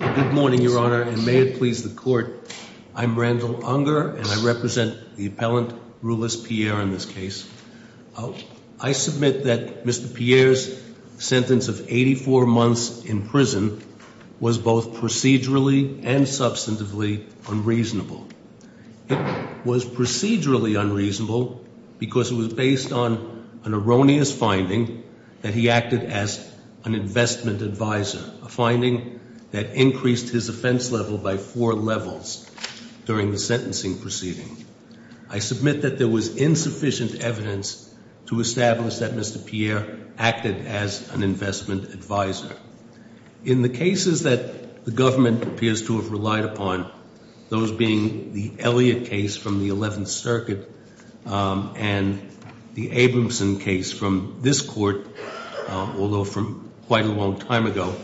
Good morning, Your Honor, and may it please the Court, I'm Randall Unger and I represent the appellant Rulis Pierre in this case. I submit that Mr. Pierre's sentence of 84 months in prison was both procedurally and substantively unreasonable. It was procedurally unreasonable because it was based on an erroneous finding that he acted as an investment advisor, a finding that increased his offense level by four levels during the sentencing proceeding. I submit that there was insufficient evidence to establish that Mr. Pierre acted as an investment advisor. In the cases that the government appears to have relied upon, those being the Elliott case from the 11th Circuit and the Abramson case from this Court, although from quite a long time ago,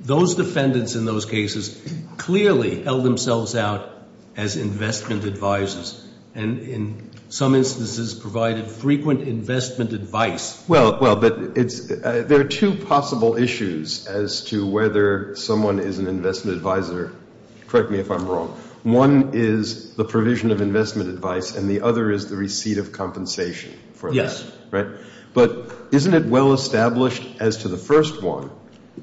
those defendants in those cases clearly held themselves out as investment advisors and in some instances provided frequent investment advice. Well, but there are two possible issues as to whether someone is an investment advisor. Correct me if I'm wrong. One is the provision of investment advice and the other is the receipt of compensation for that. Yes. Right? But isn't it well established as to the first one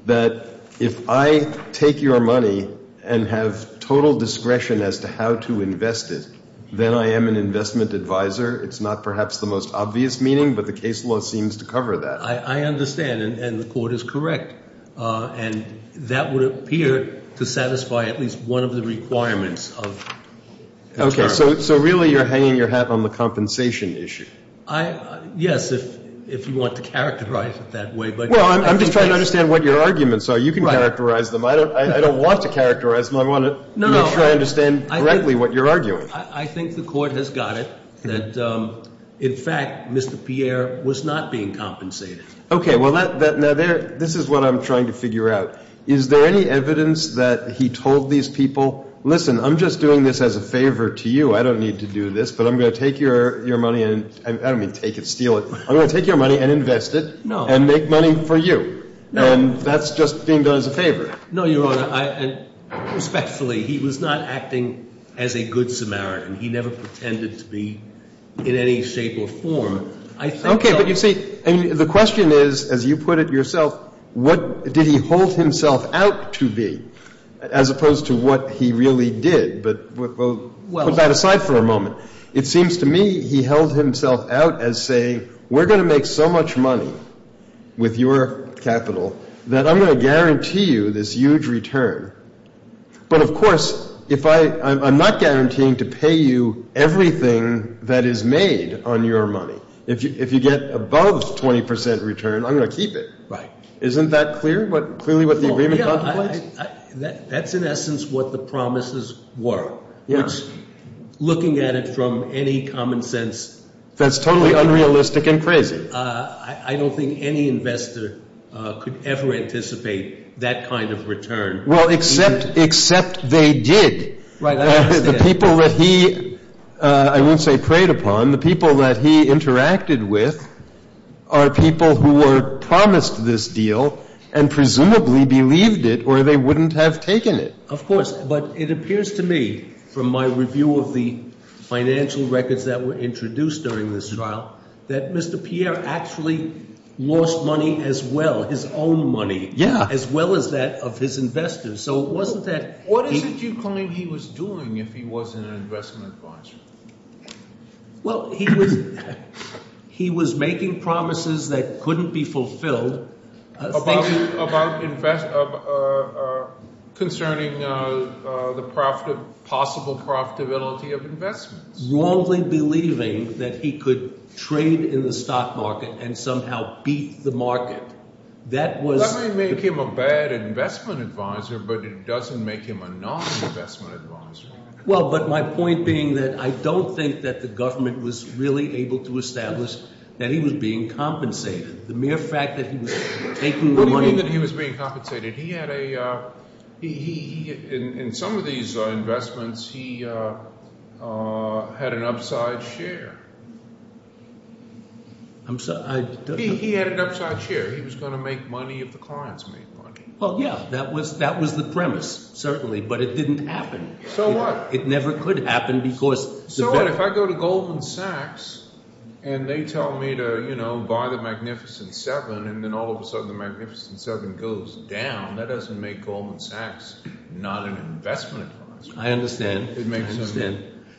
that if I take your money and have total discretion as to how to invest it, then I am an investment advisor? It's not perhaps the most obvious meaning, but the case law seems to cover that. I understand, and the Court is correct, and that would appear to satisfy at least one of the requirements. Okay, so really you're hanging your hat on the compensation issue. Yes, if you want to characterize it that way. Well, I'm just trying to understand what your arguments are. You can characterize them. I don't want to characterize them. I want to make sure I understand correctly what you're arguing. I think the Court has got it that, in fact, Mr. Pierre was not being compensated. Okay, well, this is what I'm trying to figure out. Is there any evidence that he told these people, listen, I'm just doing this as a favor to you. I don't need to do this, but I'm going to take your money and I don't mean take it, steal it. I'm going to take your money and invest it and make money for you, and that's just being done as a favor. No, Your Honor. Respectfully, he was not acting as a good Samaritan. He never pretended to be in any shape or form. Okay, but you see, the question is, as you put it yourself, what did he hold himself out to be as opposed to what he really did? But we'll put that aside for a moment. It seems to me he held himself out as saying we're going to make so much money with your capital that I'm going to guarantee you this huge return. But, of course, I'm not guaranteeing to pay you everything that is made on your money. If you get above 20 percent return, I'm going to keep it. Right. Isn't that clear, clearly what the agreement contemplates? That's, in essence, what the promises were. Yeah. Looking at it from any common sense. That's totally unrealistic and crazy. I don't think any investor could ever anticipate that kind of return. Well, except they did. Right, I understand. The people that he, I wouldn't say preyed upon, the people that he interacted with are people who were promised this deal and presumably believed it or they wouldn't have taken it. Of course, but it appears to me from my review of the financial records that were introduced during this trial that Mr. Pierre actually lost money as well, his own money, as well as that of his investors. So it wasn't that he What is it you claim he was doing if he wasn't an investment advisor? Well, he was making promises that couldn't be fulfilled. About concerning the possible profitability of investments. Wrongly believing that he could trade in the stock market and somehow beat the market. That may make him a bad investment advisor, but it doesn't make him a non-investment advisor. Well, but my point being that I don't think that the government was really able to establish that he was being compensated. The mere fact that he was taking the money What do you mean that he was being compensated? He had a, in some of these investments, he had an upside share. I'm sorry, I He had an upside share. He was going to make money if the clients made money. Well, yeah, that was the premise, certainly, but it didn't happen. So what? It never could happen because So what if I go to Goldman Sachs and they tell me to buy the Magnificent Seven and then all of a sudden the Magnificent Seven goes down? That doesn't make Goldman Sachs not an investment advisor. I understand.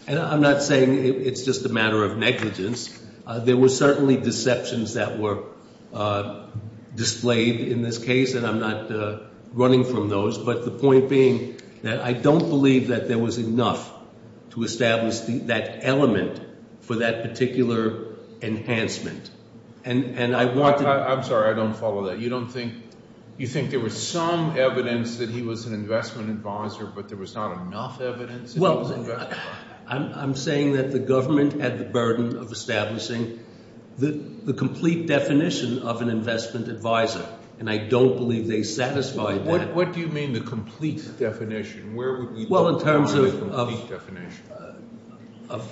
And I'm not saying it's just a matter of negligence. There were certainly deceptions that were displayed in this case, and I'm not running from those. But the point being that I don't believe that there was enough to establish that element for that particular enhancement. And I want to I'm sorry, I don't follow that. You think there was some evidence that he was an investment advisor, but there was not enough evidence? Well, I'm saying that the government had the burden of establishing the complete definition of an investment advisor, and I don't believe they satisfied that. What do you mean the complete definition? Well, in terms of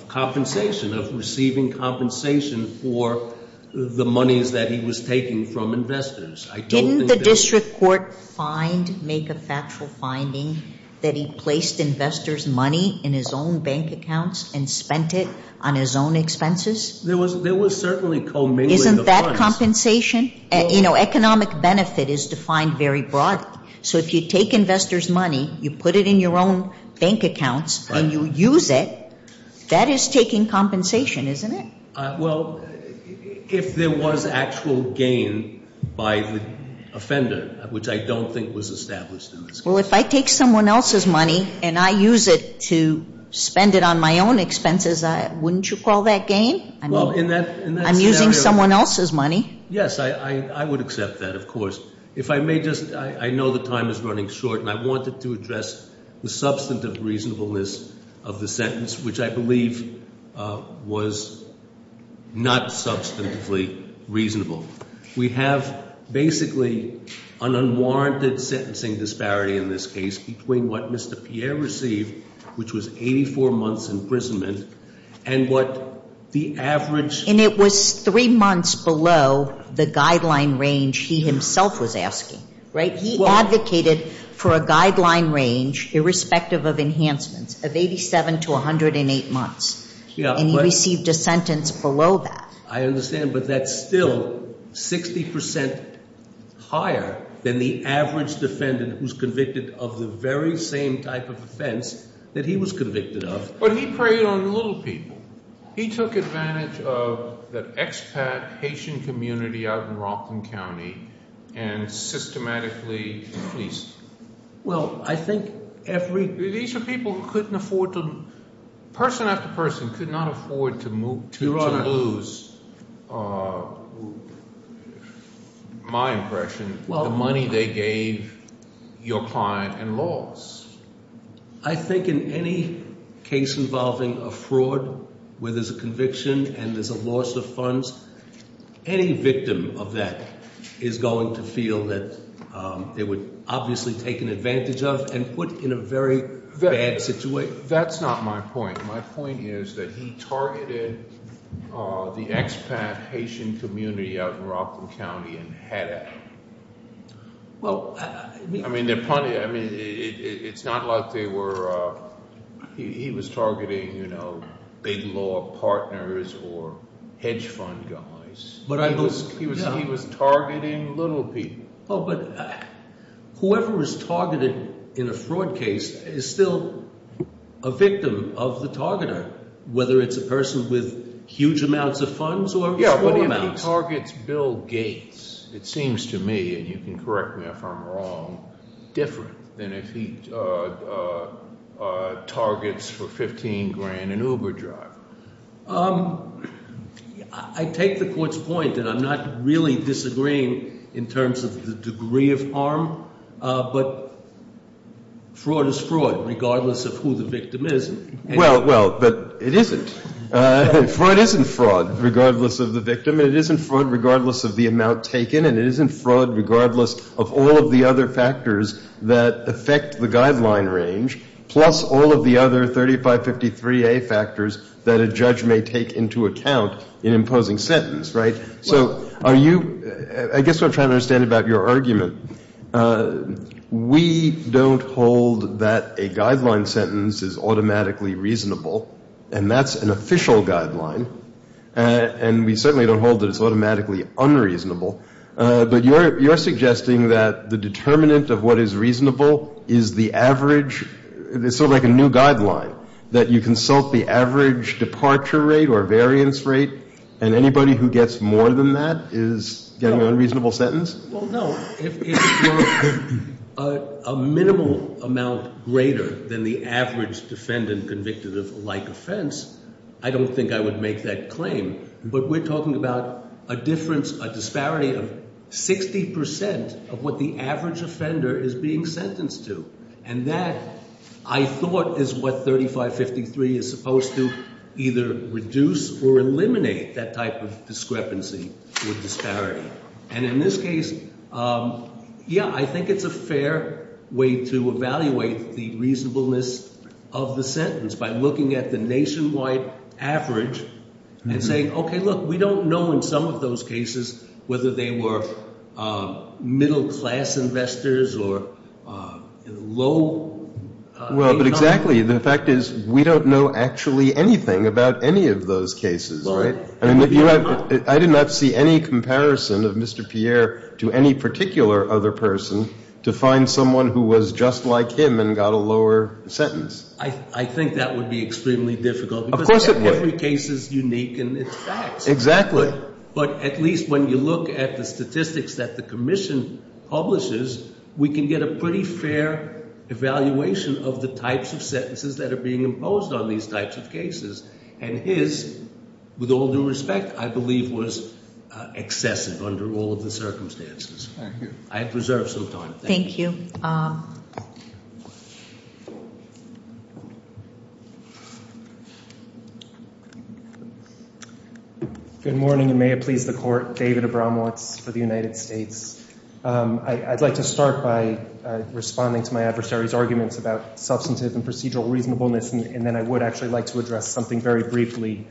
compensation, of receiving compensation for the monies that he was taking from investors. Didn't the district court find, make a factual finding that he placed investors' money in his own bank accounts and spent it on his own expenses? There was certainly co-mingling of funds. Isn't that compensation? Economic benefit is defined very broadly. So if you take investors' money, you put it in your own bank accounts, and you use it, that is taking compensation, isn't it? Well, if there was actual gain by the offender, which I don't think was established in this case. Well, if I take someone else's money and I use it to spend it on my own expenses, wouldn't you call that gain? Well, in that scenario I'm using someone else's money. Yes, I would accept that, of course. If I may just, I know the time is running short, and I wanted to address the substantive reasonableness of the sentence, which I believe was not substantively reasonable. We have basically an unwarranted sentencing disparity in this case between what Mr. Pierre received, which was 84 months' imprisonment, and what the average And it was three months below the guideline range he himself was asking, right? He advocated for a guideline range, irrespective of enhancements, of 87 to 108 months, and he received a sentence below that. I understand, but that's still 60 percent higher than the average defendant who's convicted of the very same type of offense that he was convicted of. But he preyed on little people. He took advantage of the expat Haitian community out in Rockland County and systematically fleeced them. Well, I think every These are people who couldn't afford to, person after person, could not afford to lose, my impression, the money they gave your client and lost. I think in any case involving a fraud where there's a conviction and there's a loss of funds, any victim of that is going to feel that they were obviously taken advantage of and put in a very bad situation. That's not my point. My point is that he targeted the expat Haitian community out in Rockland County and had at it. I mean, it's not like he was targeting big law partners or hedge fund guys. He was targeting little people. Oh, but whoever was targeted in a fraud case is still a victim of the targeter, whether it's a person with huge amounts of funds or small amounts. But if he targets Bill Gates, it seems to me, and you can correct me if I'm wrong, different than if he targets for 15 grand an Uber driver. I take the court's point that I'm not really disagreeing in terms of the degree of harm, but fraud is fraud regardless of who the victim is. Well, well, but it isn't. Fraud isn't fraud regardless of the victim. It isn't fraud regardless of the amount taken, and it isn't fraud regardless of all of the other factors that affect the guideline range, plus all of the other 3553A factors that a judge may take into account in imposing sentence. Right. I guess what I'm trying to understand about your argument, we don't hold that a guideline sentence is automatically reasonable, and that's an official guideline, and we certainly don't hold that it's automatically unreasonable. But you're suggesting that the determinant of what is reasonable is the average. It's sort of like a new guideline, that you consult the average departure rate or variance rate, and anybody who gets more than that is getting an unreasonable sentence? Well, no. If it was a minimal amount greater than the average defendant convicted of a like offense, I don't think I would make that claim. But we're talking about a difference, a disparity of 60 percent of what the average offender is being sentenced to, and that, I thought, is what 3553 is supposed to either reduce or eliminate, that type of discrepancy or disparity. And in this case, yeah, I think it's a fair way to evaluate the reasonableness of the sentence by looking at the nationwide average and saying, okay, look, we don't know in some of those cases whether they were middle class investors or low income. Well, but exactly. The fact is we don't know actually anything about any of those cases, right? I mean, I did not see any comparison of Mr. Pierre to any particular other person to find someone who was just like him and got a lower sentence. I think that would be extremely difficult. Of course it would. Because every case is unique and it's facts. Exactly. But at least when you look at the statistics that the commission publishes, we can get a pretty fair evaluation of the types of sentences that are being imposed on these types of cases. And his, with all due respect, I believe was excessive under all of the circumstances. Thank you. I have reserved some time. Thank you. Good morning, and may it please the Court. David Abramowitz for the United States. I'd like to start by responding to my adversary's arguments about substantive and procedural reasonableness, and then I would actually like to address something very briefly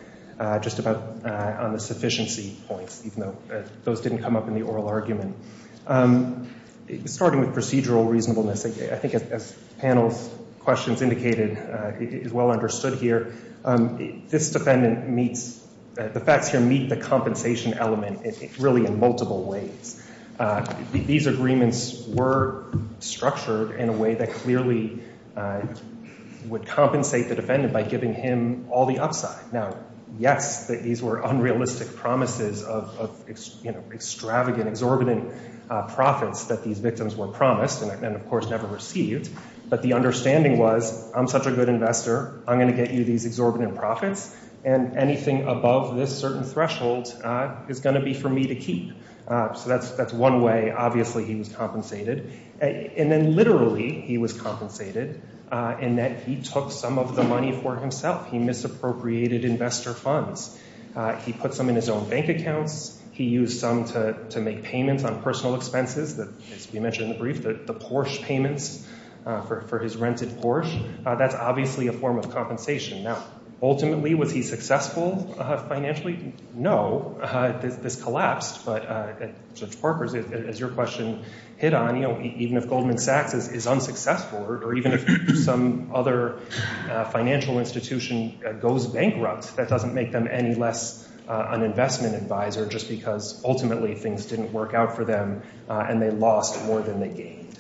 just about on the sufficiency points, even though those didn't come up in the oral argument. Starting with procedural reasonableness, I think as the panel's questions indicated, is well understood here. This defendant meets, the facts here meet the compensation element really in multiple ways. These agreements were structured in a way that clearly would compensate the defendant by giving him all the upside. Now, yes, these were unrealistic promises of extravagant, exorbitant profits that these victims were promised and, of course, never received. But the understanding was, I'm such a good investor, I'm going to get you these exorbitant profits, and anything above this certain threshold is going to be for me to keep. So that's one way, obviously, he was compensated. And then literally he was compensated in that he took some of the money for himself. He misappropriated investor funds. He put some in his own bank accounts. He used some to make payments on personal expenses, as we mentioned in the brief, the Porsche payments for his rented Porsche. That's obviously a form of compensation. Now, ultimately, was he successful financially? No. This collapsed. But Judge Parker, as your question hit on, even if Goldman Sachs is unsuccessful or even if some other financial institution goes bankrupt, that doesn't make them any less an investment advisor just because ultimately things didn't work out for them and they lost more than they gained.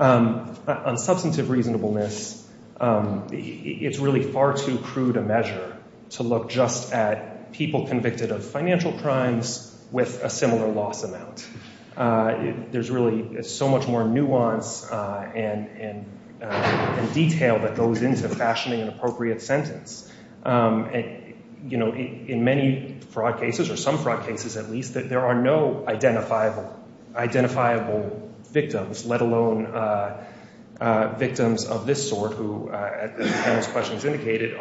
On substantive reasonableness, it's really far too crude a measure to look just at people convicted of financial crimes with a similar loss amount. There's really so much more nuance and detail that goes into fashioning an appropriate sentence. In many fraud cases, or some fraud cases at least, there are no identifiable victims, let alone victims of this sort who, as the panel's questions indicated,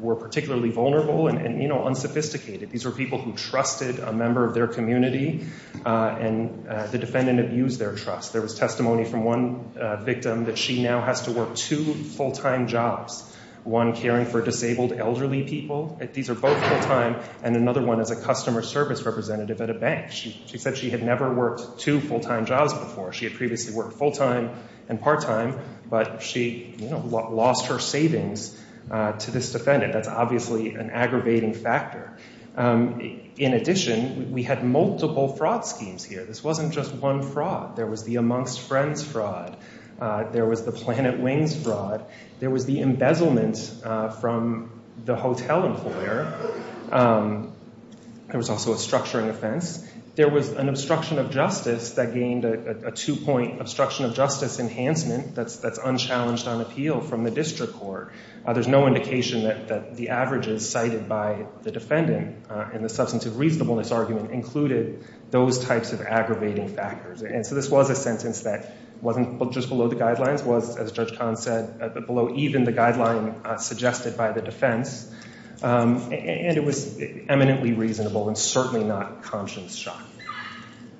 were particularly vulnerable and unsophisticated. These were people who trusted a member of their community, and the defendant abused their trust. There was testimony from one victim that she now has to work two full-time jobs, one caring for disabled elderly people. These are both full-time, and another one is a customer service representative at a bank. She said she had never worked two full-time jobs before. She had previously worked full-time and part-time, but she lost her savings to this defendant. That's obviously an aggravating factor. In addition, we had multiple fraud schemes here. This wasn't just one fraud. There was the amongst friends fraud. There was the planet wings fraud. There was the embezzlement from the hotel employer. There was also a structuring offense. There was an obstruction of justice that gained a two-point obstruction of justice enhancement that's unchallenged on appeal from the district court. There's no indication that the averages cited by the defendant in the substantive reasonableness argument included those types of aggravating factors. And so this was a sentence that wasn't just below the guidelines, was, as Judge Kahn said, below even the guideline suggested by the defense. And it was eminently reasonable and certainly not conscience-shot.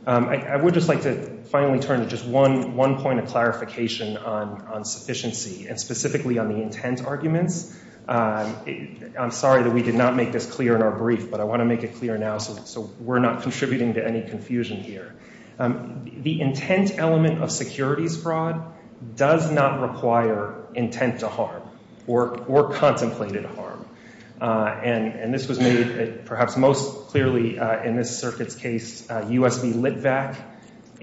I would just like to finally turn to just one point of clarification on sufficiency, and specifically on the intent arguments. I'm sorry that we did not make this clear in our brief, but I want to make it clear now so we're not contributing to any confusion here. The intent element of securities fraud does not require intent to harm or contemplated harm. And this was made perhaps most clearly in this circuit's case, U.S. v. Litvak,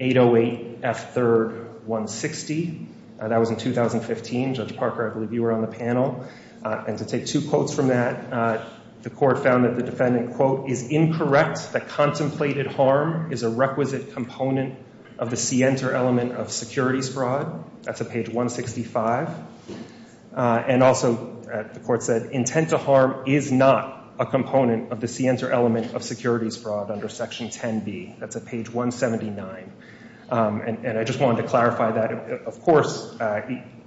808 F. 3rd, 160. That was in 2015. Judge Parker, I believe you were on the panel. And to take two quotes from that, the court found that the defendant, quote, is incorrect that contemplated harm is a requisite component of the scienter element of securities fraud. That's at page 165. And also the court said intent to harm is not a component of the scienter element of securities fraud under Section 10B. That's at page 179. And I just wanted to clarify that. Of course,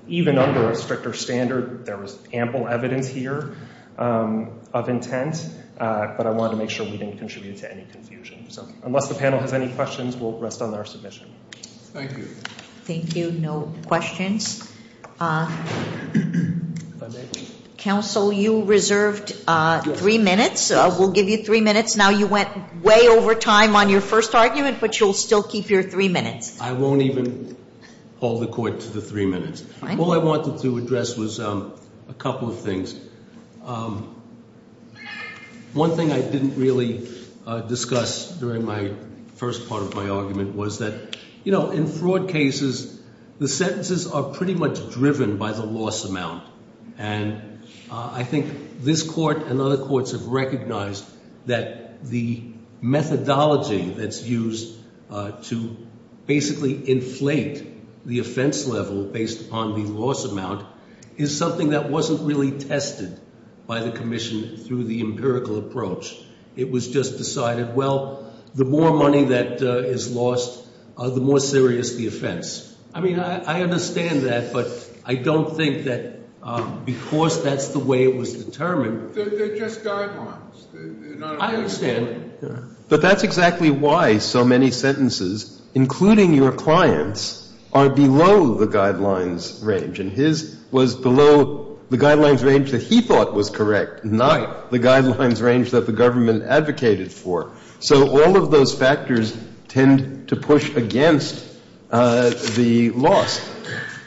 even under a stricter standard, there was ample evidence here of intent, but I wanted to make sure we didn't contribute to any confusion. So unless the panel has any questions, we'll rest on our submission. Thank you. Thank you. No questions. Counsel, you reserved three minutes. We'll give you three minutes. Now, you went way over time on your first argument, but you'll still keep your three minutes. I won't even hold the court to the three minutes. All I wanted to address was a couple of things. One thing I didn't really discuss during my first part of my argument was that, you know, in fraud cases, the sentences are pretty much driven by the loss amount. And I think this court and other courts have recognized that the methodology that's used to basically inflate the offense level based upon the loss amount is something that wasn't really tested by the commission through the empirical approach. It was just decided, well, the more money that is lost, the more serious the offense. I mean, I understand that, but I don't think that because that's the way it was determined. They're just guidelines. I understand. But that's exactly why so many sentences, including your client's, are below the guidelines range. And his was below the guidelines range that he thought was correct, not the guidelines range that the government advocated for. So all of those factors tend to push against the loss.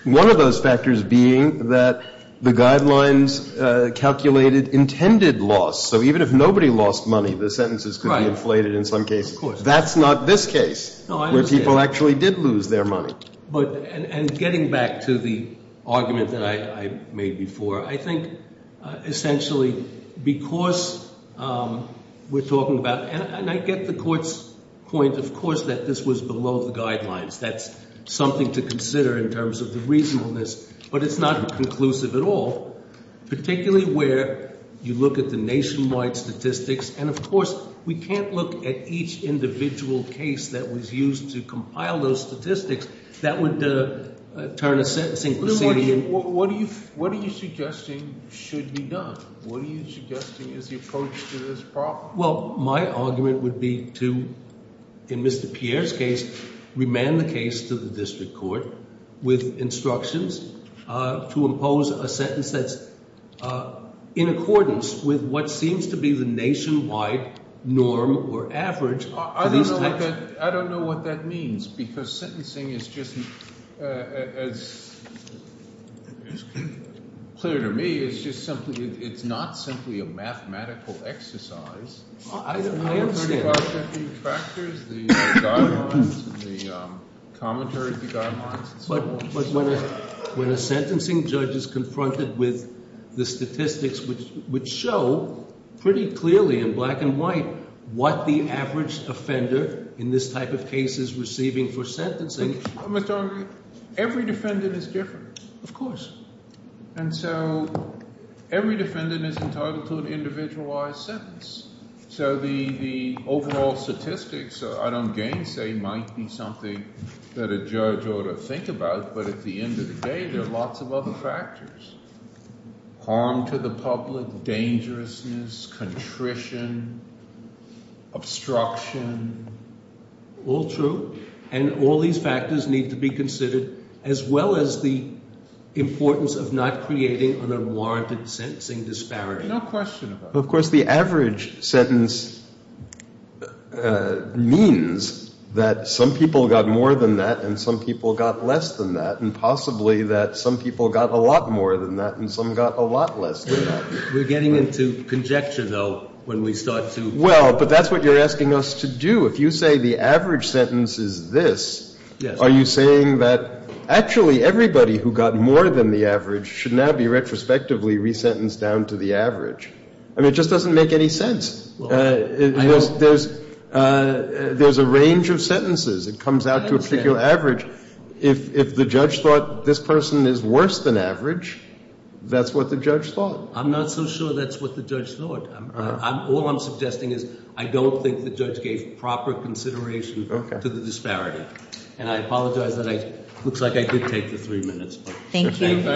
One of those factors being that the guidelines calculated intended loss. So even if nobody lost money, the sentences could be inflated in some cases. That's not this case where people actually did lose their money. And getting back to the argument that I made before, I think essentially because we're talking about, and I get the court's point, of course, that this was below the guidelines. That's something to consider in terms of the reasonableness, but it's not conclusive at all, particularly where you look at the nationwide statistics. And, of course, we can't look at each individual case that was used to compile those statistics. That would turn a sentencing proceeding. What are you suggesting should be done? What are you suggesting is the approach to this problem? Well, my argument would be to, in Mr. Pierre's case, remand the case to the district court with instructions to impose a sentence that's in accordance with what seems to be the nationwide norm or average. I don't know what that means because sentencing is just, as is clear to me, it's not simply a mathematical exercise. I understand. The factors, the guidelines, the commentaries, the guidelines. But when a sentencing judge is confronted with the statistics which show pretty clearly in black and white what the average offender in this type of case is receiving for sentencing. Every defendant is different. Of course. And so every defendant is entitled to an individualized sentence. So the overall statistics, I don't gainsay, might be something that a judge ought to think about. But at the end of the day, there are lots of other factors. Harm to the public, dangerousness, contrition, obstruction. All true. And all these factors need to be considered as well as the importance of not creating an unwarranted sentencing disparity. No question about it. Of course, the average sentence means that some people got more than that and some people got less than that. And possibly that some people got a lot more than that and some got a lot less than that. We're getting into conjecture, though, when we start to. Well, but that's what you're asking us to do. If you say the average sentence is this, are you saying that actually everybody who got more than the average should now be retrospectively resentenced down to the average? I mean, it just doesn't make any sense. There's a range of sentences. It comes out to a particular average. If the judge thought this person is worse than average, that's what the judge thought. I'm not so sure that's what the judge thought. All I'm suggesting is I don't think the judge gave proper consideration to the disparity. And I apologize that it looks like I did take the three minutes. Thank you.